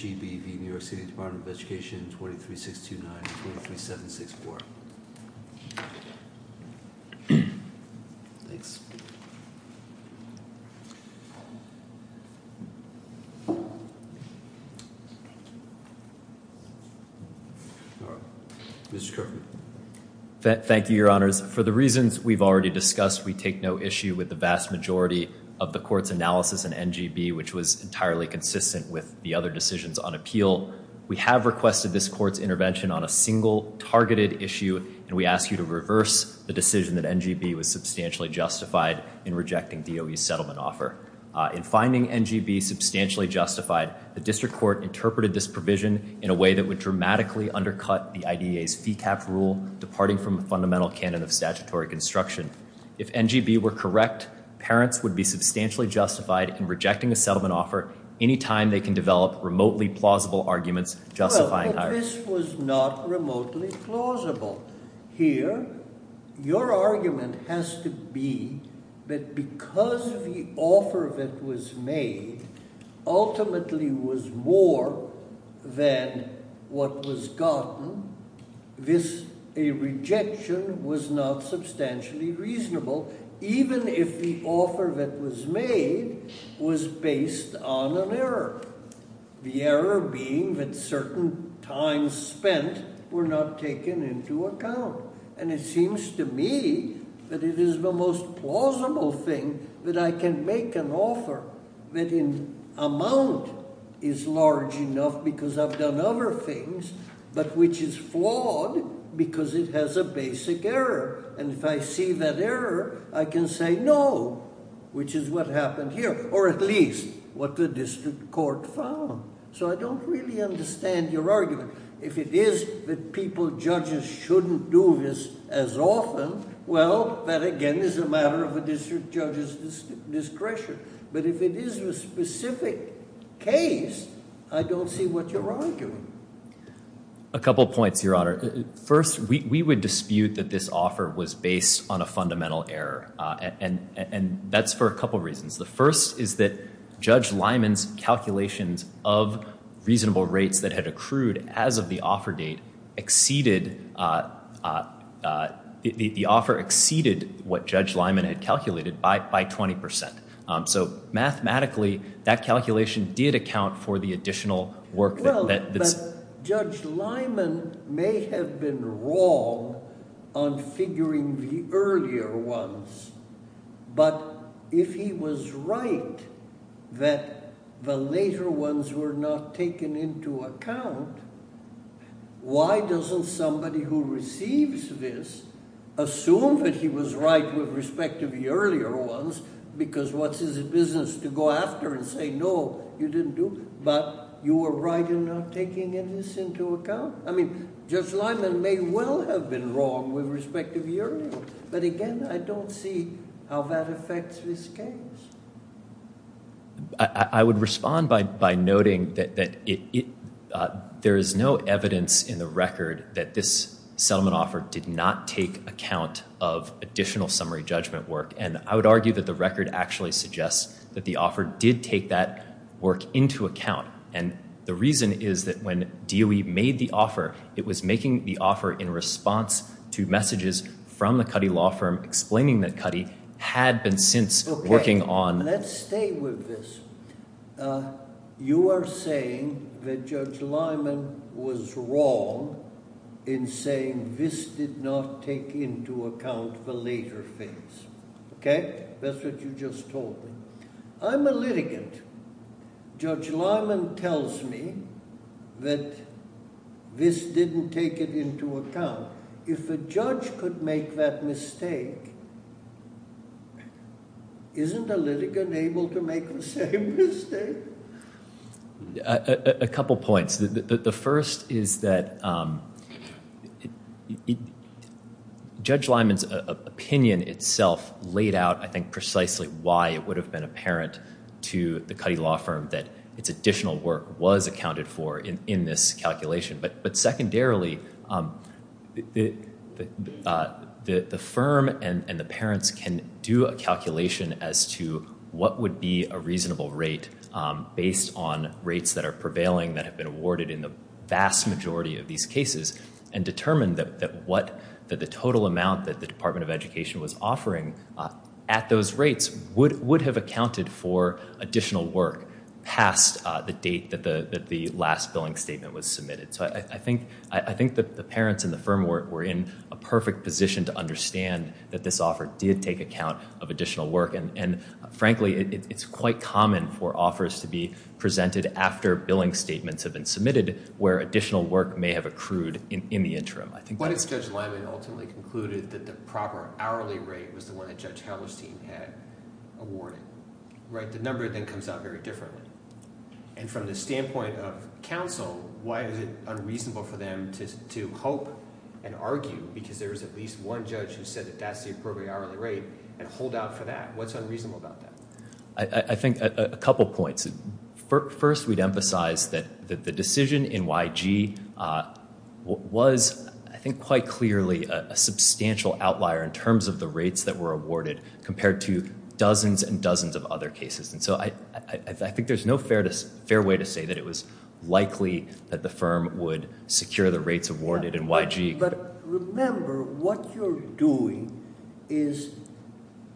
23.629.23.764. Thanks. Mr. Kerfman. Thank you, Your Honors. For the reasons we've already discussed, we take no issue with the vast majority of the Court's analysis in N.G.B. which was entirely consistent with the other decisions on appeal. We have requested this Court's intervention on a single, targeted issue, and we ask you to reverse the decision that N.G.B. was substantially justified in rejecting DOE's settlement offer. In finding N.G.B. substantially justified, the District Court interpreted this provision in a way that would dramatically undercut the IDEA's FECAP rule, departing from a fundamental canon of statutory construction. If N.G.B. were correct, parents would be substantially justified in rejecting a settlement offer any time they can develop remotely plausible arguments justifying it. Well, but this was not remotely plausible. Here, your argument has to be that because the offer that was made ultimately was more than what was gotten, a rejection was not substantially reasonable, even if the offer that was made was based on an error, the error being that certain times spent were not taken into account. And it seems to me that it is the most plausible thing that I can make an offer that in amount is large enough because I've done other things, but which is flawed because it has a basic error. And if I see that error, I can say no, which is what happened here, or at least what the District Court found. So I don't really understand your argument. If it is that people, judges, shouldn't do this as often, well, that again is a matter of a district judge's discretion. But if it is a specific case, I don't see what you're arguing. A couple points, Your Honor. First, we would dispute that this offer was based on a fundamental error, and that's for a couple reasons. The first is that Judge Lyman's calculations of reasonable rates that had accrued as of the offer date exceeded—the offer exceeded what Judge Lyman had calculated by 20 percent. So mathematically, that calculation did account for the additional work that— But Judge Lyman may have been wrong on figuring the earlier ones, but if he was right that the later ones were not taken into account, why doesn't somebody who receives this assume that he was right with respect to the earlier ones because what's his business to go after and say, no, you didn't do—but you were right in not taking any of this into account? I mean, Judge Lyman may well have been wrong with respect to the earlier ones, but again, I don't see how that affects this case. I would respond by noting that there is no evidence in the record that this settlement offer did not take account of additional summary judgment work, and I would argue that the work into account, and the reason is that when DOE made the offer, it was making the offer in response to messages from the Cuddy law firm explaining that Cuddy had been since working on— Okay, let's stay with this. You are saying that Judge Lyman was wrong in saying this did not take into account the later things. Okay? That's what you just told me. I'm a litigant. Judge Lyman tells me that this didn't take it into account. If a judge could make that mistake, isn't a litigant able to make the same mistake? A couple points. The first is that Judge Lyman's opinion itself laid out, I think, precisely why it would have been apparent to the Cuddy law firm that its additional work was accounted for in this calculation. But secondarily, the firm and the parents can do a calculation as to what would be a reasonable rate based on rates that are prevailing that have been awarded in the vast majority of these cases, and determine that the total amount that the Department of Education was offering at those rates would have accounted for additional work past the date that the last billing statement was submitted. So I think that the parents and the firm were in a perfect position to understand that this offer did take account of additional work. And frankly, it's quite common for offers to be presented after billing statements have been submitted where additional work may have accrued in the interim. What if Judge Lyman ultimately concluded that the proper hourly rate was the one that Judge Hallerstein had awarded? The number then comes out very differently. And from the standpoint of counsel, why is it unreasonable for them to hope and argue because there is at least one judge who said that that's the appropriate hourly rate and hold out for that? What's unreasonable about that? I think a couple points. First, we'd emphasize that the decision in YG was, I think quite clearly, a substantial outlier in terms of the rates that were awarded compared to dozens and dozens of other cases. And so I think there's no fair way to say that it was likely that the firm would secure the rates awarded in YG. But remember, what you're doing is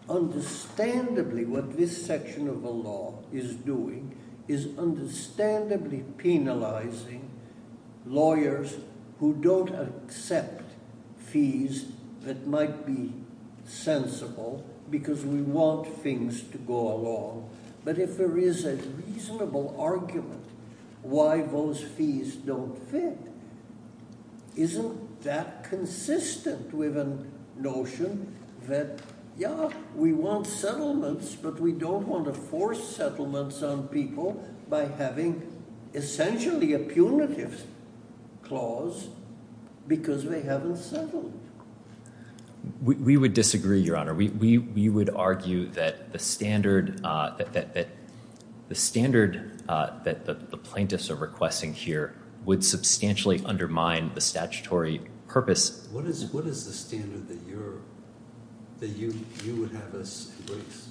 understandably, what this section of the law is doing, is understandably penalizing lawyers who don't accept fees that might be sensible because we want things to go along. But if there is a reasonable argument why those fees don't fit, isn't that consistent with a notion that, yeah, we want settlements, but we don't want to force settlements on people by having essentially a punitive clause because they haven't settled? We would disagree, Your Honor. We would argue that the standard that the plaintiffs are requesting here would substantially undermine the statutory purpose. What is the standard that you would have us embrace?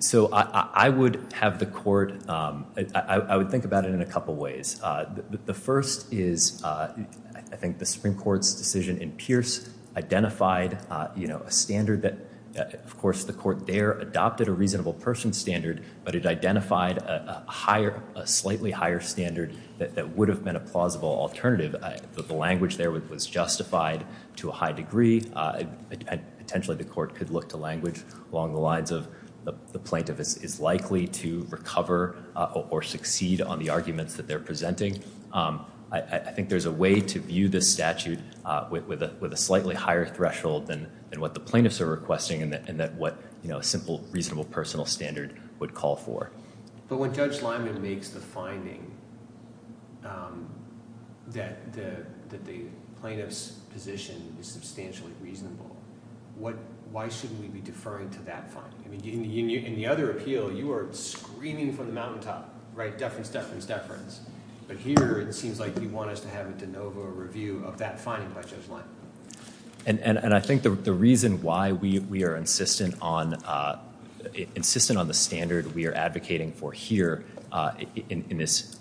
So I would have the court, I would think about it in a couple ways. The first is I think the Supreme Court's decision in Pierce identified a standard that, of course, the court there adopted a reasonable person standard, but it identified a slightly higher standard that would have been a plausible alternative. The language there was justified to a high degree. Potentially, the court could look to language along the lines of the plaintiff is likely to recover or succeed on the arguments that they're presenting. I think there's a way to view this statute with a slightly higher threshold than what the plaintiffs are requesting and that what a simple reasonable personal standard would call for. But when Judge Lyman makes the finding that the plaintiff's position is substantially reasonable, why shouldn't we be deferring to that finding? In the other appeal, you are screaming from the mountaintop, right? Deference, deference, deference. But here it seems like you want us to have a de novo review of that finding by Judge Lyman. And I think the reason why we are insistent on the standard we are advocating for here on this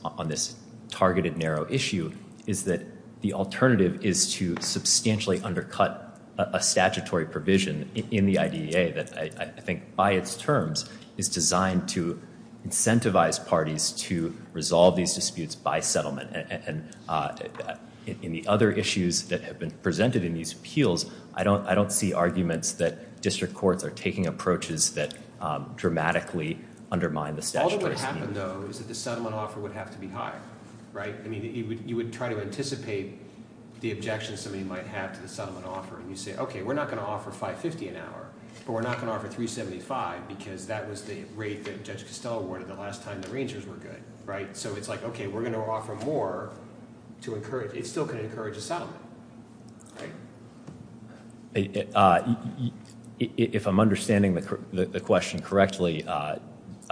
targeted narrow issue is that the alternative is to substantially undercut a statutory provision in the IDEA that I think by its terms is designed to incentivize parties to resolve these disputes by settlement. And in the other issues that have been presented in these appeals, I don't see arguments that district courts are taking approaches that dramatically undermine the statutory scheme. All that would happen, though, is that the settlement offer would have to be higher. Right? I mean, you would try to anticipate the objections somebody might have to the settlement offer and you say, okay, we are not going to offer $5.50 an hour, but we are not going to offer $3.75 because that was the rate that Judge Costello awarded the last time the Rangers were good. Right? So it is like, okay, we are going to offer more to encourage, it is still going to encourage a settlement. If I am understanding the question correctly, if...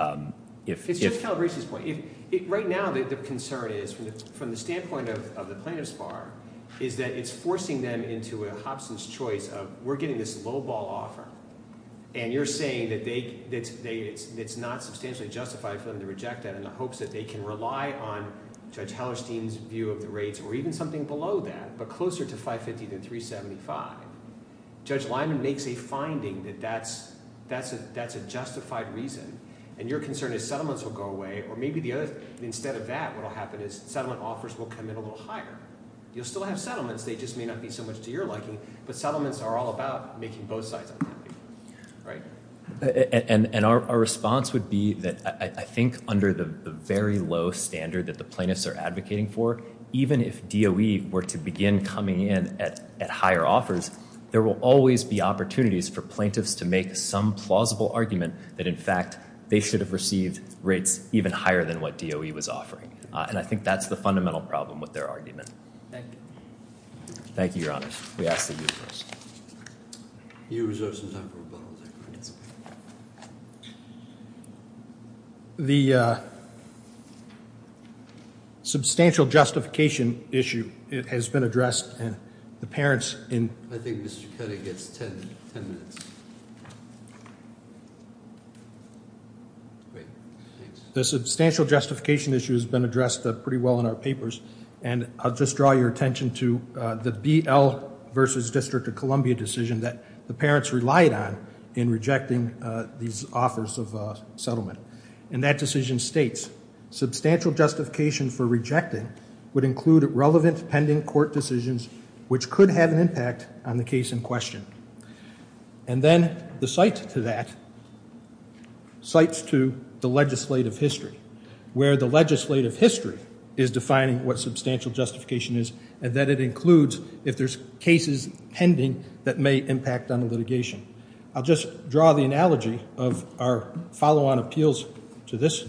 It is just Calabresi's point. Right now the concern is, from the standpoint of the plaintiff's bar, is that it is forcing them into a Hobson's choice of we are getting this lowball offer and you are saying that it is not substantially justified for them to reject that in the hopes that they can rely on Judge Hallerstein's view of the rates or even something below that, but closer to $5.50 than $3.75. Judge Lyman makes a finding that that is a justified reason. And your concern is settlements will go away or maybe instead of that what will happen is settlement offers will come in a little higher. You will still have settlements. They just may not be so much to your liking, but settlements are all about making both sides unhappy. Right? And our response would be that I think under the very low standard that the plaintiffs are advocating for, even if DOE were to begin coming in at higher offers, there will always be opportunities for plaintiffs to make some plausible argument that in fact they should have received rates even higher than what DOE was offering. And I think that's the fundamental problem with their argument. Thank you. Thank you, Your Honor. We ask that you rest. You reserve some time for rebuttal. That's okay. The substantial justification issue has been addressed and the parents in I think Mr. Kedde gets 10 minutes. The substantial justification issue has been addressed pretty well in our papers, and I'll just draw your attention to the BL versus District of Columbia decision that the parents relied on in rejecting these offers of settlement. And that decision states, Substantial justification for rejecting would include relevant pending court decisions, which could have an impact on the case in question. And then the cite to that cites to the legislative history, where the legislative history is defining what substantial justification is, and that it includes if there's cases pending that may impact on the litigation. I'll just draw the analogy of our follow-on appeals to this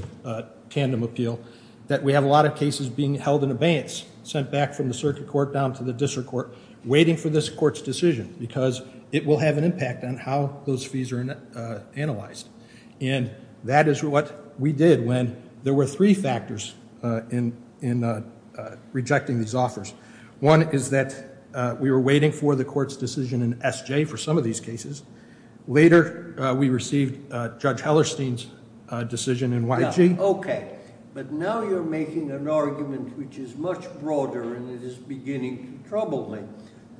tandem appeal, that we have a lot of cases being held in abeyance, sent back from the circuit court down to the district court, waiting for this court's decision, because it will have an impact on how those fees are analyzed. And that is what we did when there were three factors in rejecting these offers. One is that we were waiting for the court's decision in SJ for some of these cases. Later, we received Judge Hellerstein's decision in YG. Okay. But now you're making an argument which is much broader, and it is beginning to trouble me,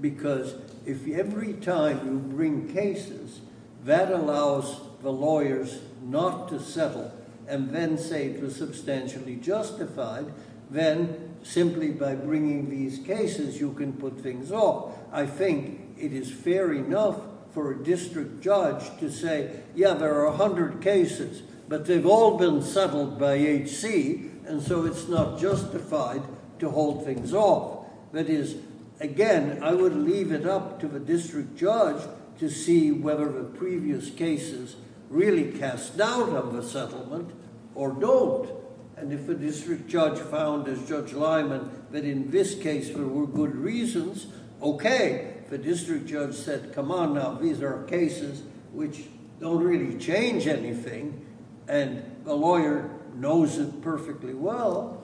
because if every time you bring cases, that allows the lawyers not to settle, and then say it was substantially justified, then simply by bringing these cases you can put things off. I think it is fair enough for a district judge to say, yeah, there are a hundred cases, but they've all been settled by HC, and so it's not justified to hold things off. That is, again, I would leave it up to the district judge to see whether the previous cases really cast doubt on the settlement or don't. And if a district judge found, as Judge Lyman, that in this case there were good reasons, okay. If a district judge said, come on now, these are cases which don't really change anything, and the lawyer knows it perfectly well,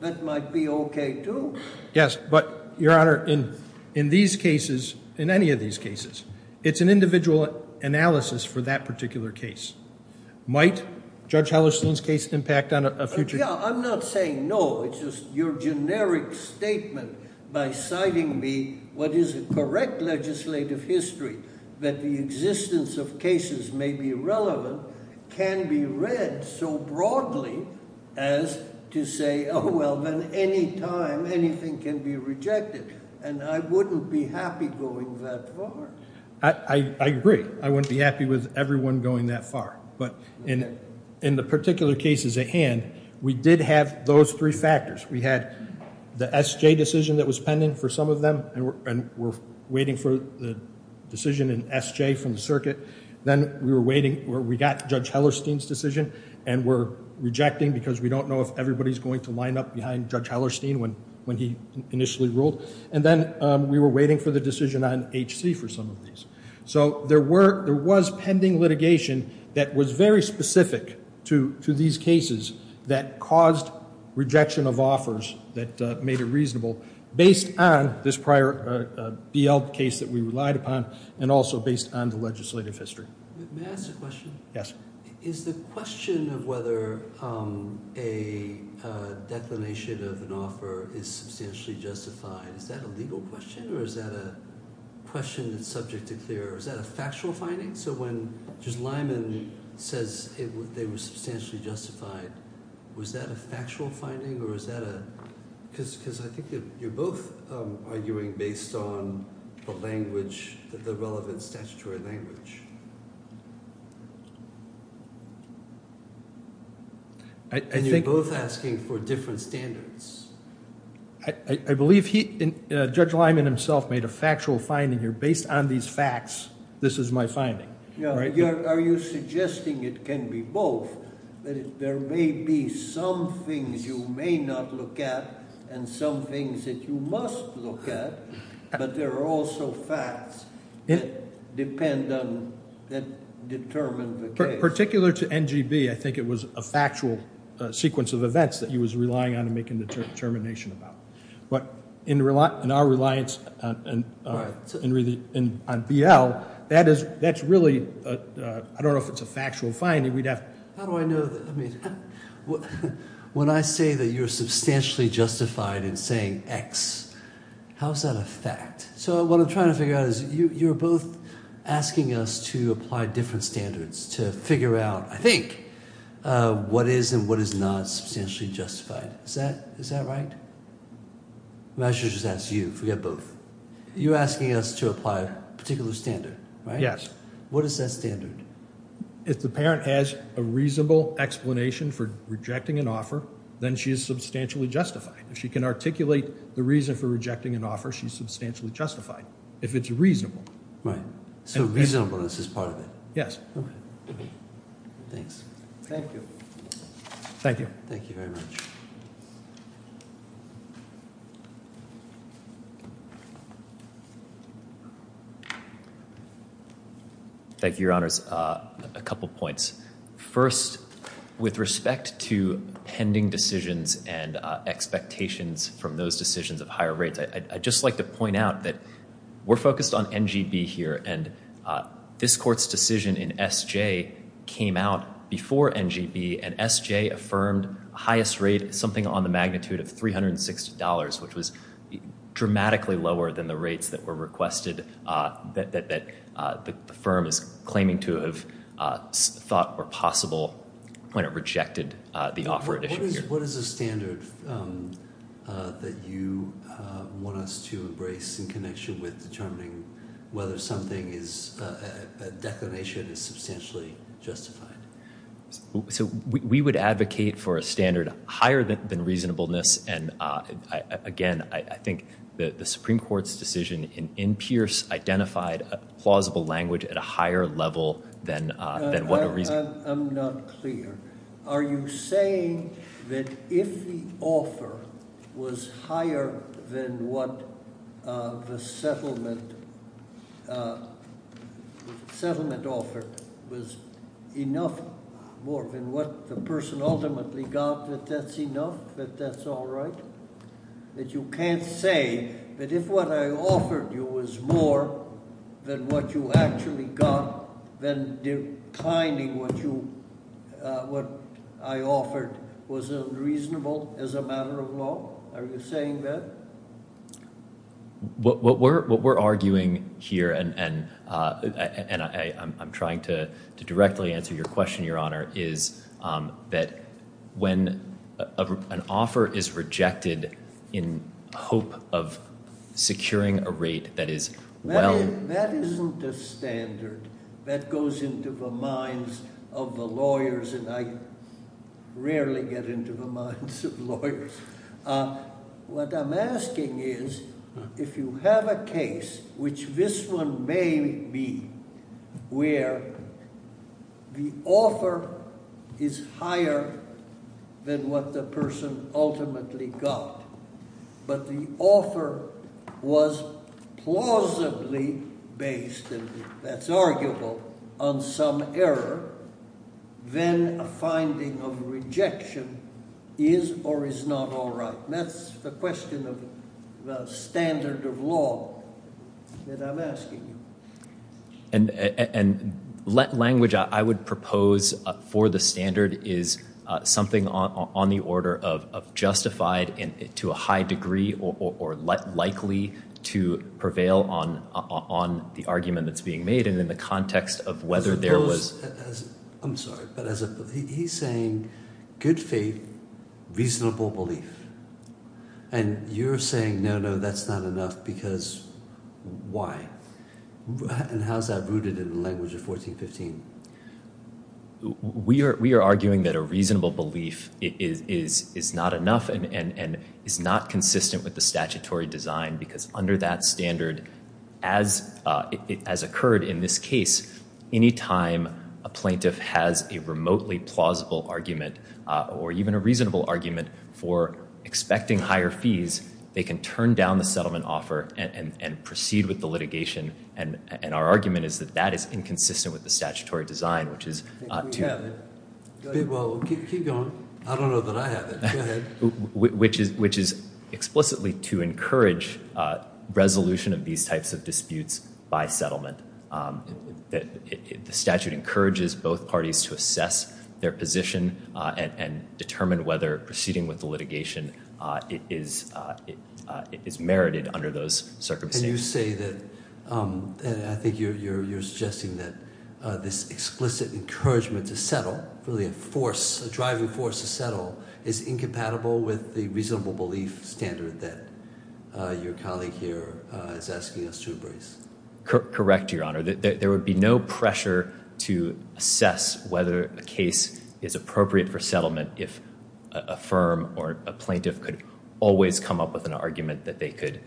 that might be okay, too. Yes, but, Your Honor, in these cases, in any of these cases, it's an individual analysis for that particular case. Might Judge Hellerstein's case impact on a future case? Yeah, I'm not saying no. It's just your generic statement by citing me, what is a correct legislative history, that the existence of cases may be relevant, can be read so broadly as to say, oh, well, then any time anything can be rejected, and I wouldn't be happy going that far. I agree. I wouldn't be happy with everyone going that far. But in the particular cases at hand, we did have those three factors. We had the SJ decision that was pending for some of them, and we're waiting for the decision in SJ from the circuit. Then we got Judge Hellerstein's decision, and we're rejecting because we don't know if everybody's going to line up behind Judge Hellerstein when he initially ruled. And then we were waiting for the decision on HC for some of these. So there was pending litigation that was very specific to these cases that caused rejection of offers that made it reasonable, based on this prior BL case that we relied upon and also based on the legislative history. May I ask a question? Yes. Is the question of whether a declination of an offer is substantially justified, is that a legal question or is that a question that's subject to clear? Is that a factual finding? So when Judge Lyman says they were substantially justified, was that a factual finding or is that a – because I think you're both arguing based on the language, the relevant statutory language. And you're both asking for different standards. I believe Judge Lyman himself made a factual finding here. Based on these facts, this is my finding. Are you suggesting it can be both? There may be some things you may not look at and some things that you must look at, but there are also facts that depend on and determine the case. Particular to NGB, I think it was a factual sequence of events that he was relying on to make a determination about. But in our reliance on BL, that's really – I don't know if it's a factual finding. How do I know that? When I say that you're substantially justified in saying X, how is that a fact? So what I'm trying to figure out is you're both asking us to apply different standards to figure out, I think, what is and what is not substantially justified. Is that right? I should just ask you. Forget both. You're asking us to apply a particular standard, right? Yes. What is that standard? If the parent has a reasonable explanation for rejecting an offer, then she is substantially justified. If she can articulate the reason for rejecting an offer, she's substantially justified, if it's reasonable. Right. So reasonableness is part of it. Yes. Okay. Thanks. Thank you. Thank you. Thank you very much. Thank you. Thank you, Your Honors. A couple points. First, with respect to pending decisions and expectations from those decisions of higher rates, I'd just like to point out that we're focused on NGB here, and this Court's decision in SJ came out before NGB, and SJ affirmed highest rate, something on the magnitude of $360, which was dramatically lower than the rates that were requested, that the firm is claiming to have thought were possible when it rejected the offer. What is the standard that you want us to embrace in connection with determining whether something is, a declination is substantially justified? So we would advocate for a standard higher than reasonableness, and, again, I think the Supreme Court's decision in Pierce identified a plausible language at a higher level than what a reasonableness. I'm not clear. Are you saying that if the offer was higher than what the settlement offered, was enough more than what the person ultimately got, that that's enough, that that's all right? That you can't say that if what I offered you was more than what you actually got, then declining what I offered was unreasonable as a matter of law? Are you saying that? What we're arguing here, and I'm trying to directly answer your question, Your Honor, is that when an offer is rejected in hope of securing a rate that is well- That isn't a standard that goes into the minds of the lawyers, and I rarely get into the minds of lawyers. What I'm asking is, if you have a case, which this one may be, where the offer is higher than what the person ultimately got, but the offer was plausibly based, and that's arguable, on some error, then a finding of rejection is or is not all right. That's the question of the standard of law that I'm asking you. And language I would propose for the standard is something on the order of justified to a high degree or likely to prevail on the argument that's being made, and in the context of whether there was- I'm sorry, but he's saying good faith, reasonable belief. And you're saying, no, no, that's not enough, because why? And how is that rooted in the language of 1415? We are arguing that a reasonable belief is not enough and is not consistent with the statutory design because under that standard, as occurred in this case, any time a plaintiff has a remotely plausible argument or even a reasonable argument for expecting higher fees, they can turn down the settlement offer and proceed with the litigation. And our argument is that that is inconsistent with the statutory design, which is- We have it. Keep going. I don't know that I have it. Go ahead. Which is explicitly to encourage resolution of these types of disputes by settlement. The statute encourages both parties to assess their position and determine whether proceeding with the litigation is merited under those circumstances. Can you say that- I think you're suggesting that this explicit encouragement to settle, that's not really a force, a driving force to settle, is incompatible with the reasonable belief standard that your colleague here is asking us to embrace? Correct, Your Honor. There would be no pressure to assess whether a case is appropriate for settlement if a firm or a plaintiff could always come up with an argument that they could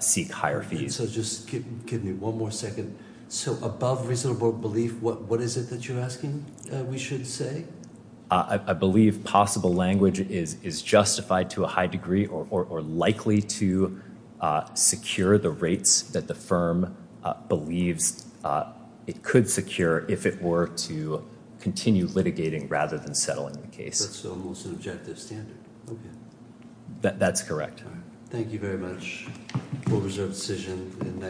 seek higher fees. So just give me one more second. So above reasonable belief, what is it that you're asking we should say? I believe possible language is justified to a high degree or likely to secure the rates that the firm believes it could secure if it were to continue litigating rather than settling the case. That's the most objective standard. That's correct. Thank you very much. We'll reserve the decision.